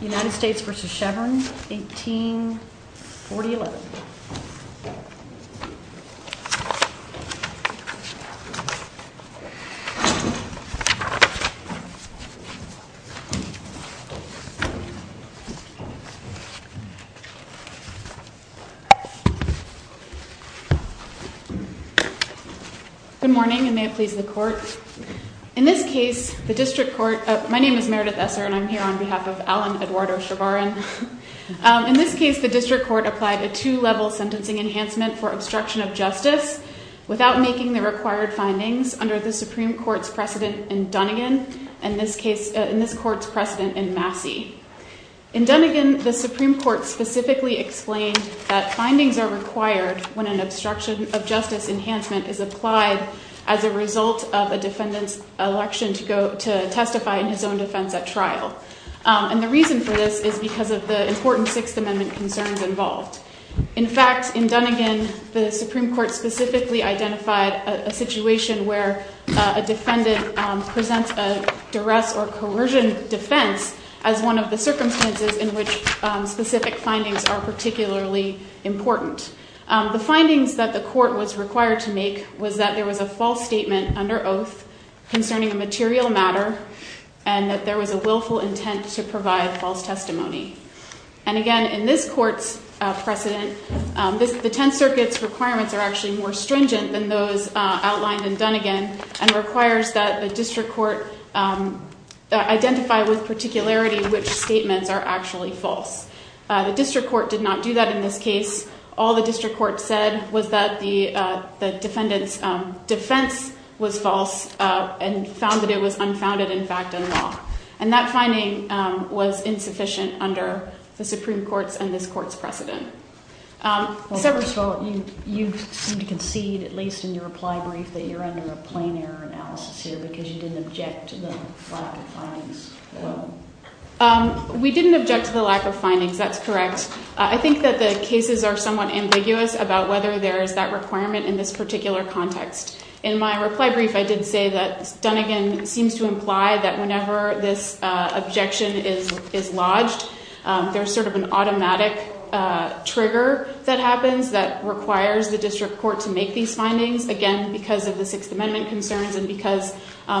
United States v. Chavarin 1840-11 Good morning, and may it please the Court. In this case, the District Court applied a two-level sentencing enhancement for obstruction of justice without making the required findings under the Supreme Court's precedent in Dunnigan and this Court's precedent in Massey. In Dunnigan, the Supreme Court specifically explained that findings are required when an obstruction of justice enhancement is applied as a result of a defendant's election to testify in his own defense at trial. And the reason for this is because of the important Sixth Amendment concerns involved. In fact, in Dunnigan, the Supreme Court specifically identified a situation where a defendant presents a duress or coercion defense as one of the circumstances in which specific findings are particularly important. The findings that the Court was required to make was that there was a false statement under oath concerning a material matter and that there was a willful intent to provide false testimony. And again, in this Court's precedent, the Tenth Circuit's requirements are actually more stringent than those outlined in Dunnigan and requires that the District Court identify with particularity which statements are actually false. The District Court did not do that in this case. All the District Court said was that the defendant's defense was false and found that it was unfounded, in fact, in law. And that finding was insufficient under the Supreme Court's and this Court's precedent. Well, first of all, you seem to concede, at least in your reply brief, that you're under a plain error analysis here because you didn't object to the five findings. We didn't object to the lack of findings. That's correct. I think that the cases are somewhat ambiguous about whether there is that requirement in this particular context. In my reply brief, I did say that Dunnigan seems to imply that whenever this objection is lodged, there's sort of an automatic trigger that happens that requires the District Court to make these findings, again, because of the Sixth Amendment concerns and because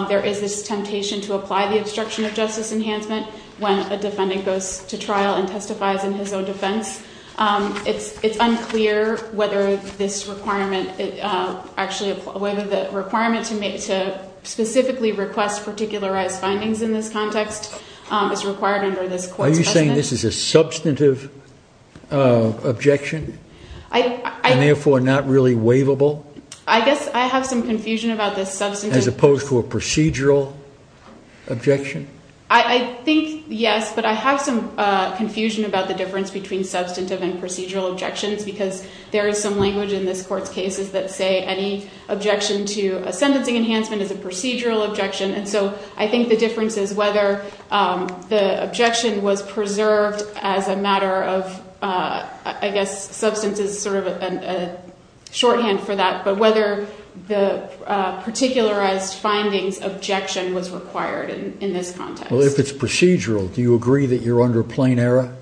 there is this temptation to apply the obstruction of justice enhancement when a defendant goes to trial and testifies in his own defense. It's unclear whether this requirement, actually whether the requirement to specifically request particularized findings in this context is required under this Court's precedent. Are you saying this is a substantive objection and therefore not really waivable? I guess I have some confusion about this substantive... Procedural objection? I think, yes, but I have some confusion about the difference between substantive and procedural objections because there is some language in this Court's cases that say any objection to a sentencing enhancement is a procedural objection, and so I think the difference is whether the objection was preserved as a matter of, I guess, substance is sort of a shorthand for that, but whether the particularized findings objection was required in this context. Well, if it's procedural, do you agree that you're under plain error?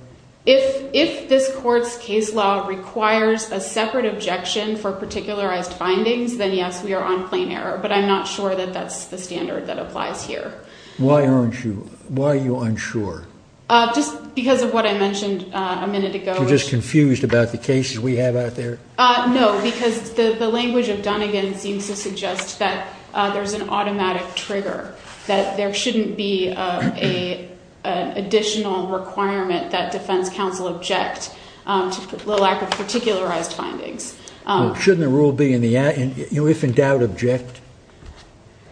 If this Court's case law requires a separate objection for particularized findings, then yes, we are on plain error, but I'm not sure that that's the standard that applies here. Why aren't you... Why are you unsure? Just because of what I mentioned a minute ago. You're just confused about the cases we have out there? No, because the language of Dunnegan seems to suggest that there's an automatic trigger, that there shouldn't be an additional requirement that defense counsel object to the lack of particularized findings. Well, shouldn't the rule be in the act, if in doubt, object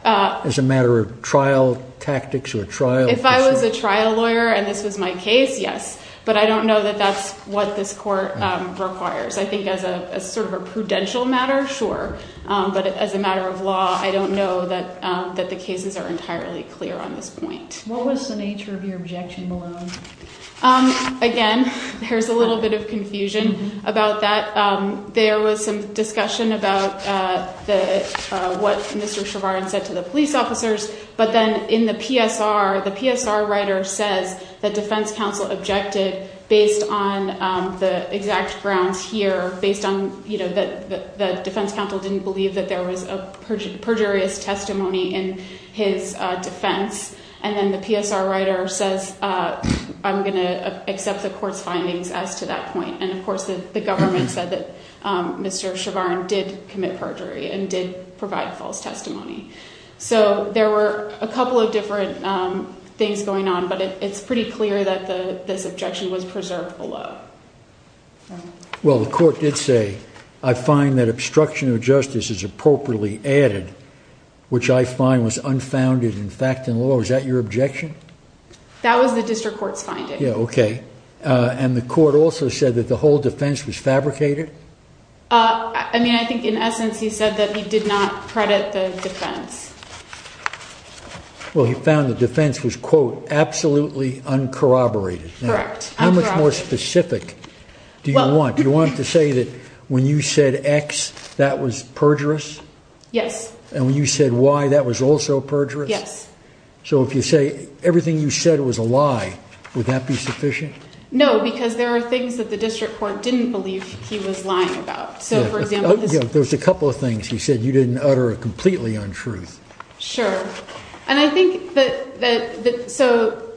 as a matter of trial tactics or trial... If I was a trial lawyer and this was my case, yes, but I don't know that that's what this sort of a prudential matter, sure, but as a matter of law, I don't know that the cases are entirely clear on this point. What was the nature of your objection, Malone? Again, there's a little bit of confusion about that. There was some discussion about what Mr. Chevron said to the police officers, but then in the PSR, the PSR writer says that defense counsel objected based on the exact grounds here, or based on that the defense counsel didn't believe that there was a perjurious testimony in his defense, and then the PSR writer says, I'm going to accept the court's findings as to that point. Of course, the government said that Mr. Chevron did commit perjury and did provide false testimony. There were a couple of different things going on, but it's pretty clear that this objection was preserved below. Well, the court did say, I find that obstruction of justice is appropriately added, which I find was unfounded in fact and law. Is that your objection? That was the district court's finding. Yeah, okay. And the court also said that the whole defense was fabricated? I mean, I think in essence, he said that he did not credit the defense. Well, he found the defense was, quote, absolutely uncorroborated. Correct. How much more specific do you want? Do you want to say that when you said X, that was perjurous? Yes. And when you said Y, that was also perjurous? Yes. So if you say everything you said was a lie, would that be sufficient? No, because there are things that the district court didn't believe he was lying about. Sure. And I think that, so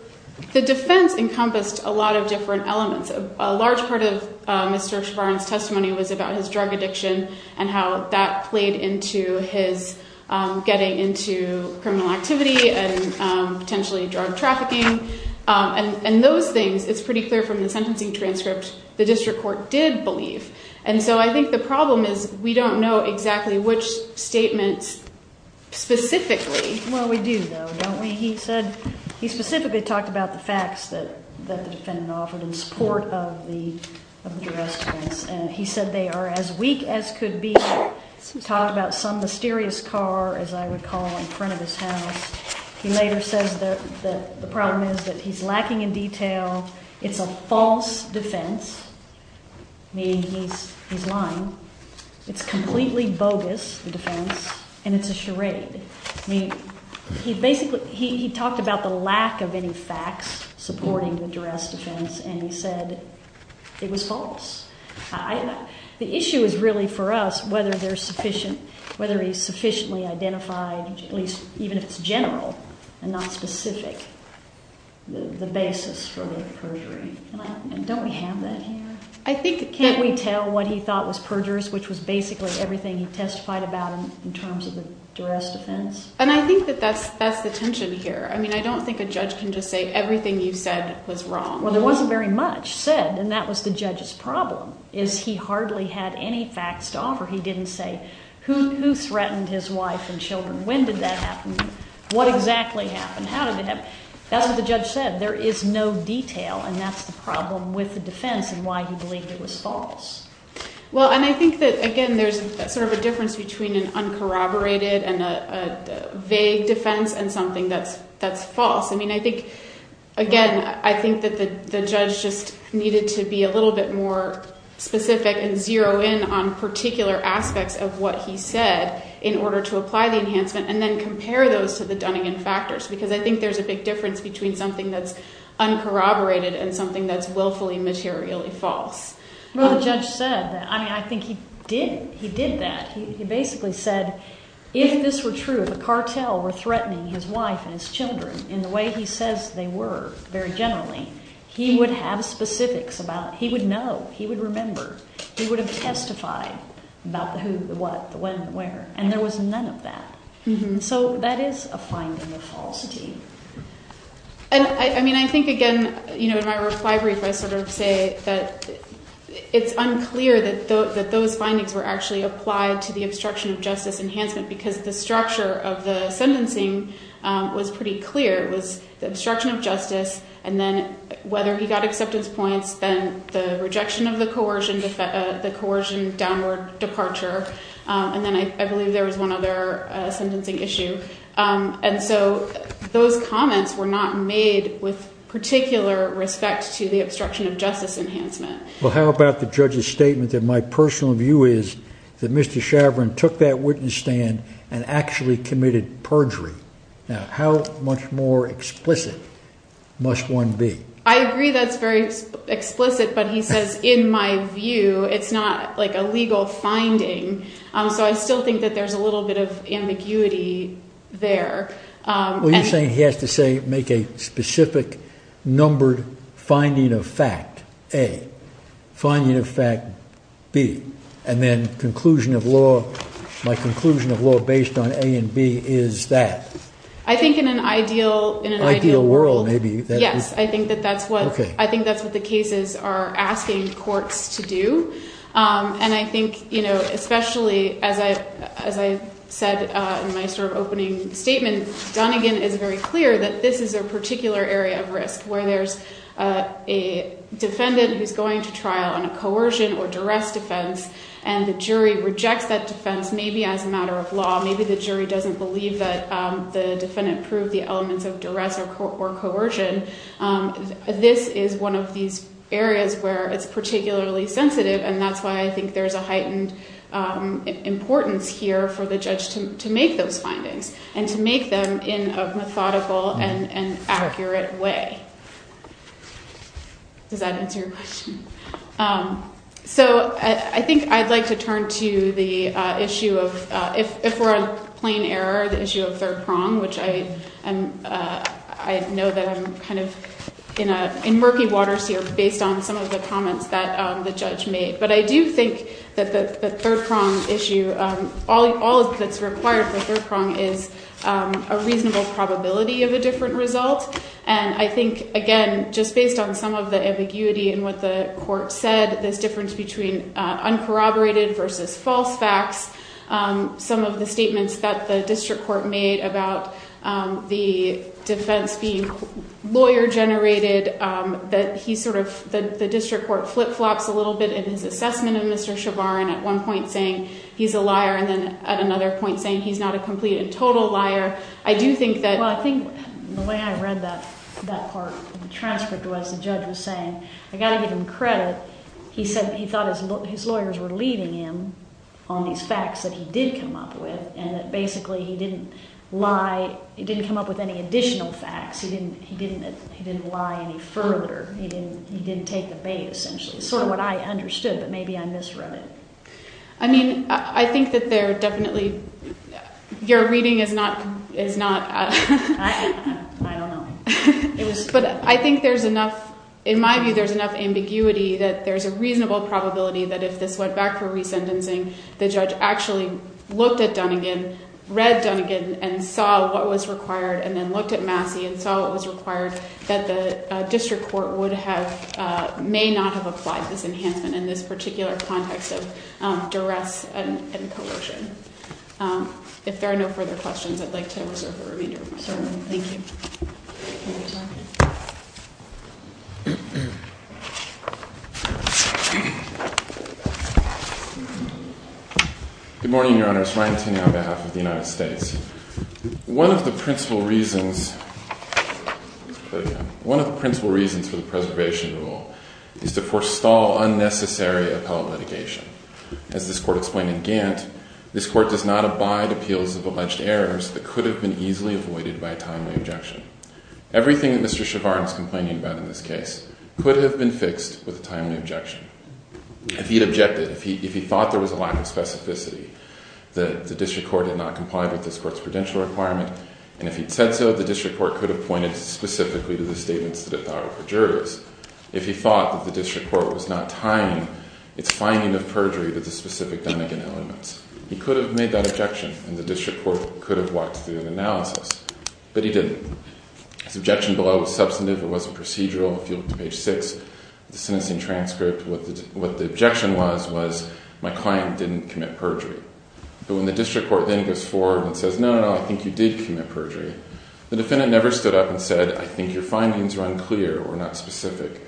the defense encompassed a lot of different elements. A large part of Mr. Shavarin's testimony was about his drug addiction and how that played into his getting into criminal activity and potentially drug trafficking. And those things, it's pretty clear from the sentencing transcript, the district court did believe. And so I think the problem is we don't know exactly which statement specifically. Well, we do, though, don't we? He said, he specifically talked about the facts that the defendant offered in support of the arrest. And he said they are as weak as could be. He talked about some mysterious car, as I recall, in front of his house. He later says that the problem is that he's lacking in detail. It's a false defense, meaning he's lying. It's completely bogus, the defense, and it's a charade. I mean, he basically, he talked about the lack of any facts supporting the duress defense and he said it was false. The issue is really for us whether there's sufficient, whether he sufficiently identified, at least even if it's general and not specific, the basis for the perjury. And don't we have that here? I think that... Can't we tell what he thought was perjurous, which was basically everything he testified about in terms of the duress defense? And I think that that's the tension here. I mean, I don't think a judge can just say everything you said was wrong. Well, there wasn't very much said, and that was the judge's problem, is he hardly had any facts to offer. He didn't say, who threatened his wife and children? When did that happen? What exactly happened? How did it happen? That's what the judge said. There is no detail, and that's the problem with the defense and why he believed it was false. Well, and I think that, again, there's sort of a difference between an uncorroborated and a vague defense and something that's false. I mean, I think, again, I think that the judge just needed to be a little bit more specific and zero in on particular aspects of what he said in order to apply the enhancement and then compare those to the Dunningan factors, because I think there's a big difference between something that's uncorroborated and something that's willfully materially false. Well, the judge said that. I mean, I think he did, he did that. He basically said, if this were true, if a cartel were threatening his wife and his children in the way he says they were very generally, he would have specifics about, he would know, he would remember, he would have testified about the who, the what, the when, the where, and there was none of that. So that is a finding of falsity. And, I mean, I think, again, you know, in my reply brief, I sort of say that it's unclear that those findings were actually applied to the obstruction of justice enhancement, because the structure of the sentencing was pretty clear. It was the obstruction of justice, and then whether he got acceptance points, then the rejection of the coercion, the coercion downward departure, and then I believe there was one other sentencing issue. And so those comments were not made with particular respect to the obstruction of justice enhancement. Well, how about the judge's statement that my personal view is that Mr. Chauvin took that witness stand and actually committed perjury. Now, how much more explicit must one be? I agree that's very explicit, but he says, in my view, it's not like a legal finding. So I still think that there's a little bit of ambiguity there. Well, you're saying he has to make a specific, numbered finding of fact, A. Finding of fact, B. And then conclusion of law, my conclusion of law based on A and B is that. I think in an ideal world, yes. I think that's what the cases are asking courts to do. And I think, especially as I said in my opening statement, Donegan is very clear that this is a particular area of risk, where there's a defendant who's going to trial on a coercion or duress defense and the jury rejects that defense, maybe as a matter of law, maybe the jury doesn't believe that the defendant proved the elements of duress or coercion. This is one of these areas where it's particularly sensitive and that's why I think there's a heightened importance here for the judge to make those findings and to make them in a methodical and accurate way. Does that answer your question? So I think I'd like to turn to the issue of, if we're on plain error, the issue of third prong, which I know that I'm kind of in murky waters here based on some of the comments that the judge made. But I do think that the third prong issue, all that's required for third prong is a reasonable probability of a different result. And I think, again, just based on some of the ambiguity in what the court said, this difference between uncorroborated versus false facts, some of the statements that the district court made about the defense being lawyer generated, that the district court flip-flops a little bit in his assessment of Mr. Chavarin at one point saying he's a liar and then at another point saying he's not a complete and total liar. I do think that... Well, I think the way I read that part of the transcript was the judge was saying I've got to give him credit. He said he thought his lawyers were leading him on these facts that he did come up with and that basically he didn't lie, he didn't come up with any additional facts. He didn't lie any further. He didn't take the bait, essentially. Sort of what I understood, but maybe I misread it. I mean, I think that there definitely... Your reading is not... I don't know. But I think there's enough... In my view, there's enough ambiguity that there's a reasonable probability that if this went back for re-sentencing, the judge actually looked at Dunnegan, read Dunnegan, and saw what was required and then looked at Massey and saw what was required, that the district court would have... may not have applied this enhancement in this particular context of duress and coercion. If there are no further questions, I'd like to reserve the remainder of my time. Thank you. Your turn. Good morning, Your Honor. It's Ryan Tinney on behalf of the United States. One of the principal reasons... Let's play it again. One of the principal reasons for the preservation rule is to forestall unnecessary appellate litigation. As this court explained in Gantt, this court does not abide appeals of alleged errors that could have been easily avoided by a timely objection. Everything that Mr. Shavarne is complaining about in this case could have been fixed with a timely objection. If he'd objected, if he thought there was a lack of specificity, that the district court did not comply with this court's prudential requirement, and if he'd said so, the district court could have pointed specifically to the statements that it thought were for jurors. If he thought that the district court was not tying its finding of perjury to the specific Dunnegan elements, he could have made that objection, and the district court could have walked through the analysis. But he didn't. His objection below was substantive, it wasn't procedural. If you look at page 6 of the sentencing transcript, what the objection was was, my client didn't commit perjury. But when the district court then goes forward and says, no, no, no, I think you did commit perjury, the defendant never stood up and said, I think your findings are unclear or not specific,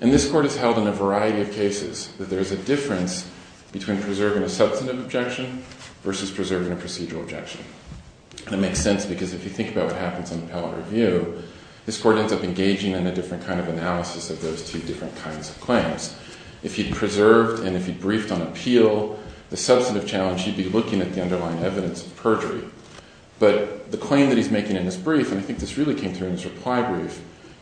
And this court has held in a variety of cases that there is a difference between preserving a substantive objection versus preserving a procedural objection. And it makes sense because if you think about what happens in appellate review, this court ends up engaging in a different kind of analysis of those two different kinds of claims. If he'd preserved and if he'd briefed on appeal, the substantive challenge, he'd be looking at the underlying evidence of perjury. But the claim that he's making in his brief, and I think this really came through in his reply brief,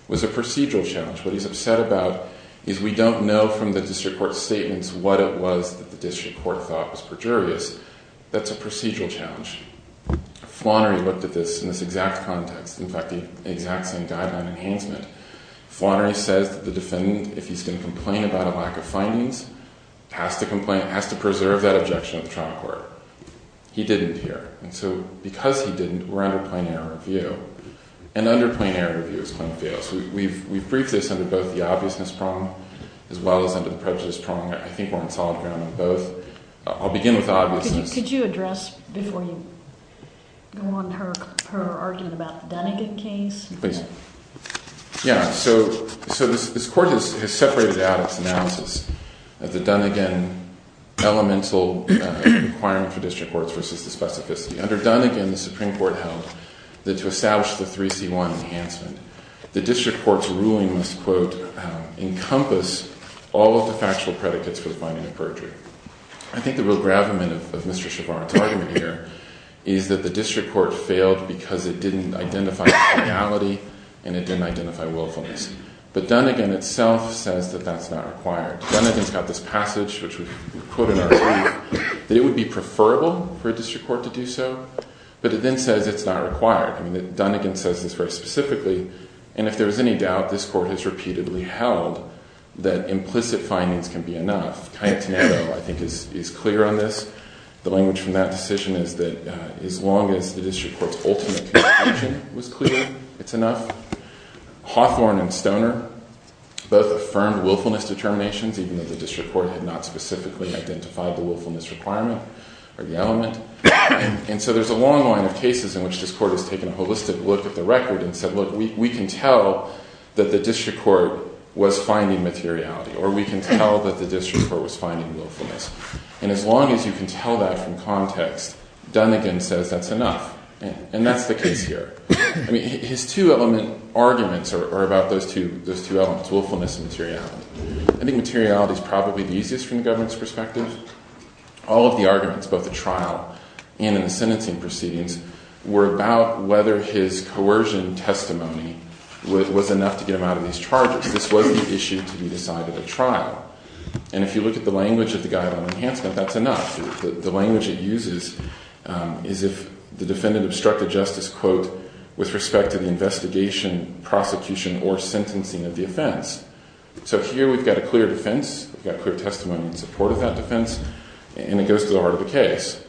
was a procedural challenge. What he's upset about is we don't know from the district court's statements what it was that the district court thought was perjurious. That's a procedural challenge. Flannery looked at this in this exact context. In fact, the exact same guideline enhancement. Flannery says that the defendant, if he's going to complain about a lack of findings, has to preserve that objection at the trial court. He didn't here. And so because he didn't, we're under plain error review. And under plain error review, his claim fails. We've briefed this under both the obviousness prong as well as under the prejudice prong. I think we're on solid ground on both. I'll begin with obviousness. Could you address, before you go on, her argument about the Dunnigan case? Please. Yeah, so this court has separated out its analysis of the Dunnigan elemental requirement for district courts versus the specificity. Under Dunnigan, the Supreme Court held that to establish the 3C1 enhancement, the district court's ruling must, quote, encompass all of the factual predicates for finding a perjury. I think the real gravamen of Mr. Chabarro's argument here is that the district court failed because it didn't identify legality and it didn't identify willfulness. But Dunnigan itself says that that's not required. Dunnigan's got this passage, which we quote in our review, that it would be preferable for a district court to do so, but it then says it's not required. Dunnigan says this very specifically. And if there was any doubt, this court has repeatedly held that implicit findings can be enough. Cayetano, I think, is clear on this. The language from that decision is that as long as the district court's ultimate conclusion was clear, it's enough. Hawthorne and Stoner both affirmed willfulness determinations, even though the district court had not specifically identified the willfulness requirement or the element. And so there's a long line of cases in which this court has taken a holistic look at the record and said, look, we can tell that the district court was finding materiality or we can tell that the district court was finding willfulness. And as long as you can tell that from context, Dunnigan says that's enough. And that's the case here. I mean, his two element arguments are about those two elements, willfulness and materiality. I think materiality is probably the easiest from the government's perspective. All of the arguments, both the trial and in the sentencing proceedings, were about whether his coercion testimony was enough to get him out of these charges. This was the issue to be decided at trial. And if you look at the language of the Guideline of Enhancement, that's enough. The language it uses is if the defendant obstructed justice, quote, with respect to the investigation, prosecution, or sentencing of the offense. So here we've got a clear defense, we've got clear testimony in support of that defense, and it goes to the heart of the case.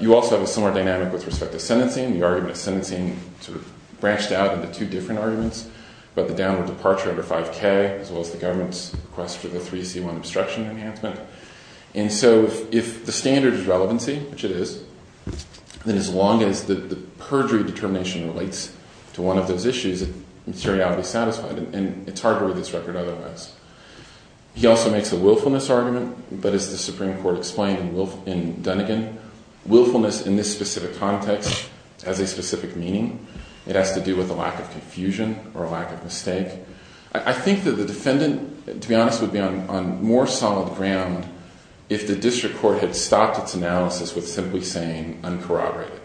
You also have a similar dynamic with respect to sentencing. The argument of sentencing sort of branched out into two different arguments, about the downward departure under 5K, as well as the government's request for the 3C1 obstruction enhancement. And so if the standard is relevancy, which it is, then as long as the perjury determination relates to one of those issues, materiality is satisfied. And it's hard to read this record otherwise. He also makes a willfulness argument, but as the Supreme Court explained in Dunnegan, willfulness in this specific context has a specific meaning. It has to do with a lack of confusion, or a lack of mistake. I think that the defendant, to be honest, would be on more solid ground if the district court had stopped its analysis with simply saying, uncorroborated.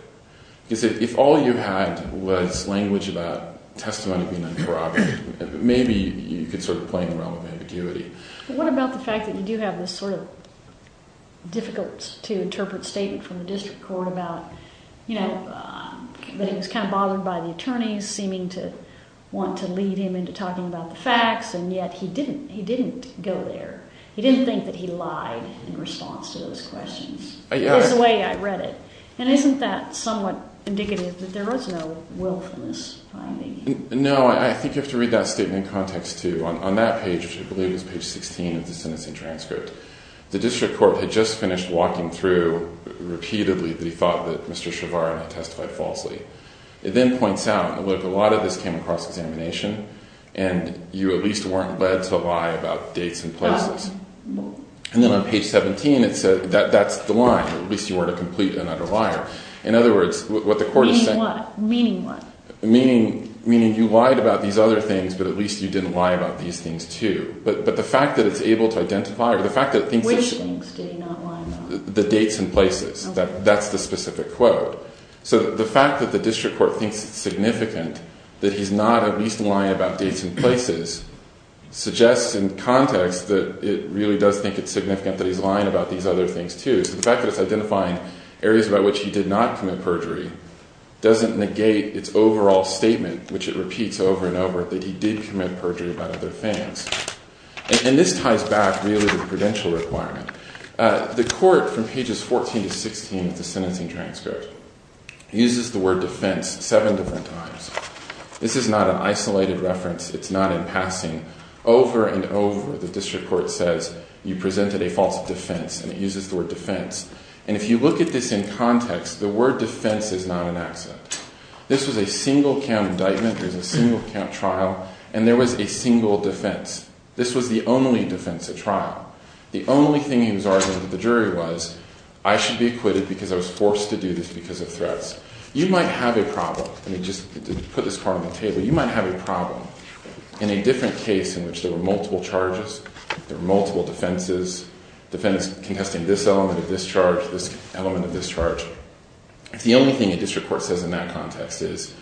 Because if all you had was language about testimony being uncorroborated, maybe you could sort of play in the realm of ambiguity. What about the fact that you do have this sort of difficult to interpret statement from the district court about, you know, that he was kind of bothered by the attorneys seeming to want to lead him into talking about the facts, and yet he didn't go there. He didn't think that he lied in response to those questions. Is the way I read it. And isn't that somewhat indicative that there was no willfulness finding? No, I think you have to read that statement in context too. On that page, which I believe is page 16 of the sentencing transcript, the district court had just finished walking through, repeatedly, that he thought that Mr. Shavar and I testified falsely. It then points out, look, a lot of this came across examination, and you at least weren't led to lie about dates and places. And then on page 17, that's the line, at least you weren't a complete and utter liar. In other words, what the court is saying... Meaning what? Meaning you lied about these other things, but at least you didn't lie about these things too. But the fact that it's able to identify... Which things did he not lie about? The dates and places. That's the specific quote. So the fact that the district court thinks it's significant that he's not at least lying about dates and places, suggests in context that it really does think it's significant that he's lying about these other things too. So the fact that it's identifying areas about which he did not commit perjury doesn't negate its overall statement, which it repeats over and over, that he did commit perjury about other things. And this ties back really to the prudential requirement. The court, from pages 14 to 16 of the sentencing transcript, uses the word defense seven different times. This is not an isolated reference. It's not in passing. Over and over, the district court says you presented a false defense, and it uses the word defense. And if you look at this in context, the word defense is not an accent. This was a single count indictment. There was a single count trial, and there was a single defense. This was the only defense at trial. The only thing he was arguing to the jury was, I should be acquitted because I was forced to do this because of threats. You might have a problem. Let me just put this part on the table. You might have a problem in a different case in which there were multiple charges, there were multiple defenses, defendants contesting this element of this charge, this element of this defense. What the district court says in that context is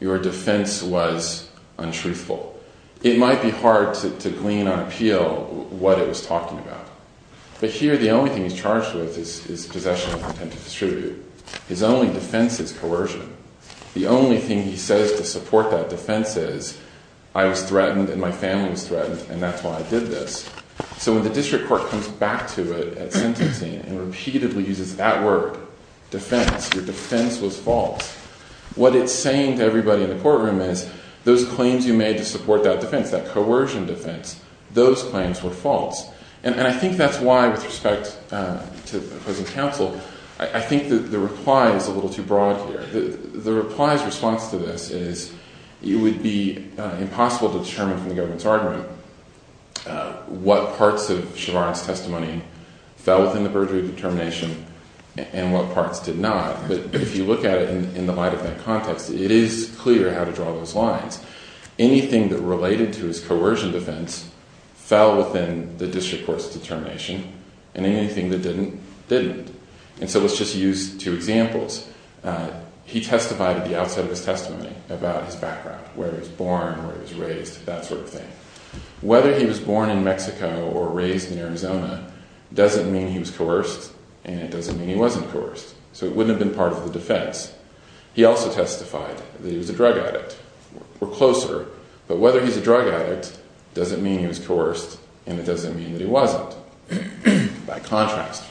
your defense was untruthful. It might be hard to glean on appeal what it was talking about. But here, the only thing he's charged with is possession of contempt of distribution. His only defense is coercion. The only thing he says to support that defense is, I was threatened and my family was threatened, and that's why I did this. So when the district court comes back to it at sentencing and repeatedly uses that word defense, your defense was false. What it's saying to everybody in the courtroom is, those claims you made to support that defense, that coercion defense, those claims were false. And I think that's why, with respect to opposing counsel, I think the reply is a little too broad here. The reply's response to this is it would be impossible to determine from the government's argument what parts of Chevron's testimony fell within the district court's determination. What parts did not, but if you look at it in the light of that context, it is clear how to draw those lines. Anything that related to his coercion defense fell within the district court's determination, and anything that didn't, didn't. And so let's just use two examples. He testified at the outset of his testimony about his background, where he was born, where he was raised, that sort of thing. Whether he was born in Mexico or raised in Arizona doesn't mean he was coerced, and it doesn't mean he wasn't coerced. So it wouldn't have been part of the defense. He also testified that he was a drug addict. We're closer, but whether he's a drug addict doesn't mean he was coerced, and it doesn't mean that he wasn't. By contrast,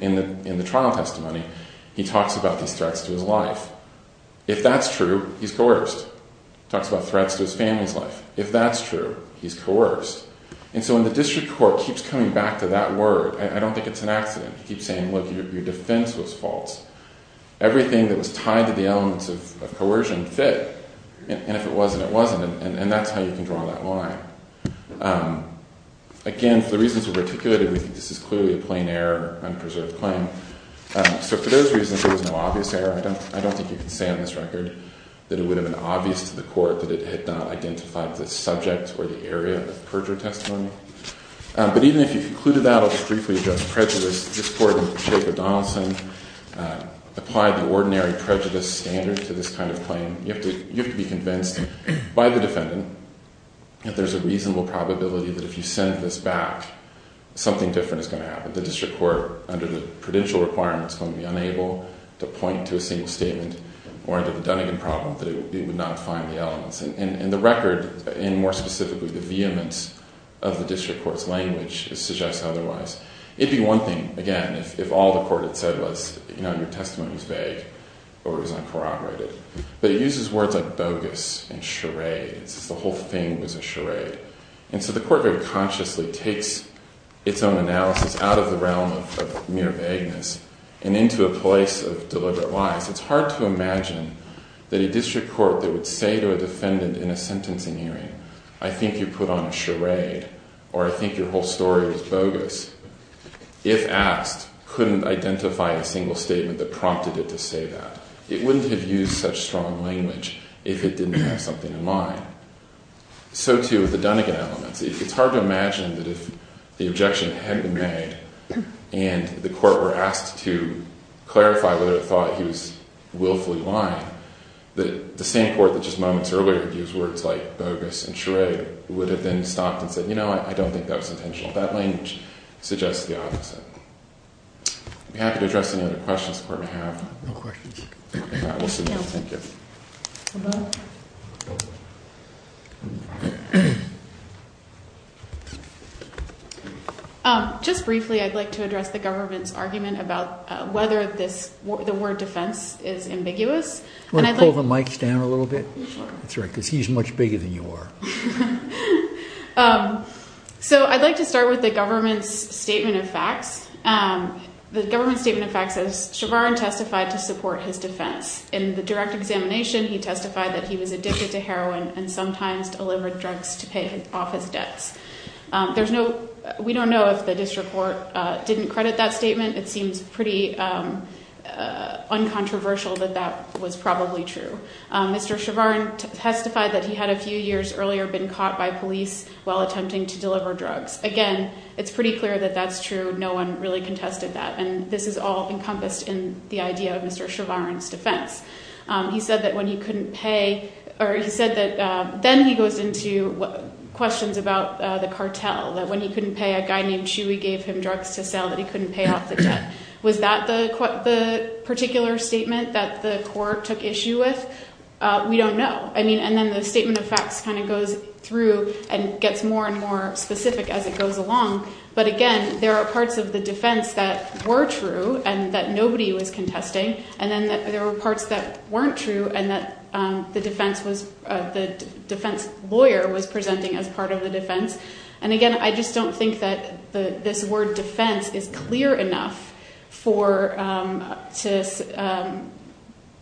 in the trial testimony, he talks about these threats to his life. If that's true, he's coerced. He talks about threats to his family's life. If that's true, he's coerced. And so when the district court keeps coming back to that word, I don't think it's an accident. He keeps saying, look, your defense was false. Everything that was tied to the elements of coercion fit, and if it wasn't, it wasn't, and that's how you can draw that line. Again, for the reasons we've articulated, we think this is clearly a plain error, an unpreserved claim. So for those reasons, there was no obvious error. I don't think you can say on this record that it would have been obvious to the court that it had not identified the subject or the area of the perjured testimony. But even if you concluded that as briefly just prejudice, this court in the shape of Donaldson applied the ordinary prejudice standard to this kind of claim. You have to be convinced by the defendant that there's a reasonable probability that if you send this back, something different is going to happen. The district court, under the prudential requirements, is going to be unable to point to a single statement, or under the Dunnegan problem, that it would not find the elements. And the record, and more specifically the vehemence of the district court's language, suggests otherwise. It'd be one thing, again, if all the court had said was, you know, your testimony was vague, or it was uncorroborated. But it uses words like bogus and charades. The whole thing was a charade. And so the court very consciously takes its own analysis out of the realm of mere vagueness, and into a place of deliberate lies. It's hard to imagine that a district court that would say to a defendant in a sentencing hearing, I think you put on a charade, or I think your whole story was bogus, if asked, couldn't identify a single statement that prompted it to say that. It wouldn't have used such strong language if it didn't have something in mind. So too with the Dunnegan elements. It's hard to imagine that if the objection had been made, and the court were asked to clarify whether it thought he was the same court that just moments earlier used words like bogus and charade, would have then stopped and said, you know, I don't think that was intentional. That language suggests the opposite. I'd be happy to address any other questions the court may have. Thank you. Just briefly, I'd like to address the government's argument about whether the word defense is ambiguous. I'd like to start with the government's statement of facts. The government's statement of facts says Chevron testified to support his defense. In the direct examination, he testified that he was addicted to heroin and sometimes delivered drugs to pay off his debts. We don't know if the district court didn't credit that statement. It seems pretty uncontroversial that that was probably true. Mr. Chevron testified that he had a few years earlier been caught by police while attempting to deliver drugs. Again, it's pretty clear that that's true. No one really contested that, and this is all encompassed in the idea of Mr. Chevron's defense. He said that when he couldn't pay, or he said that then he goes into questions about the cartel, that when he couldn't pay, a guy named Chewy gave him drugs to sell that he couldn't pay off the debt. Was that the particular statement that the court took issue with? We don't know. And then the statement of facts kind of goes through and gets more and more specific as it goes along. But again, there are parts of the defense that were true and that nobody was contesting, and then there were parts that weren't true and that the defense lawyer was presenting as part of the defense. And again, I just don't think that this word defense is clear enough to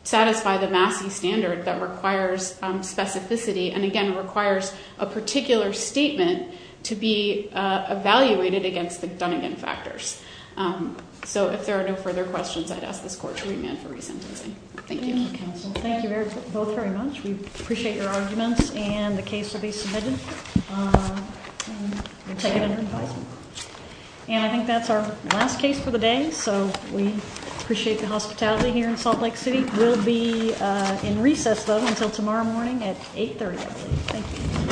satisfy the Massey standard that requires specificity and again requires a particular statement to be evaluated against the Dunnigan factors. So if there are no further questions, I'd ask this court to remand for resentencing. Thank you. Thank you both very much. We appreciate your arguments, and the case will be submitted. We'll take it under advisement. And I think that's our last case for the day, so we appreciate the hospitality here in Salt Lake City. We'll be in recess, though, until tomorrow morning at 8.30. Thank you.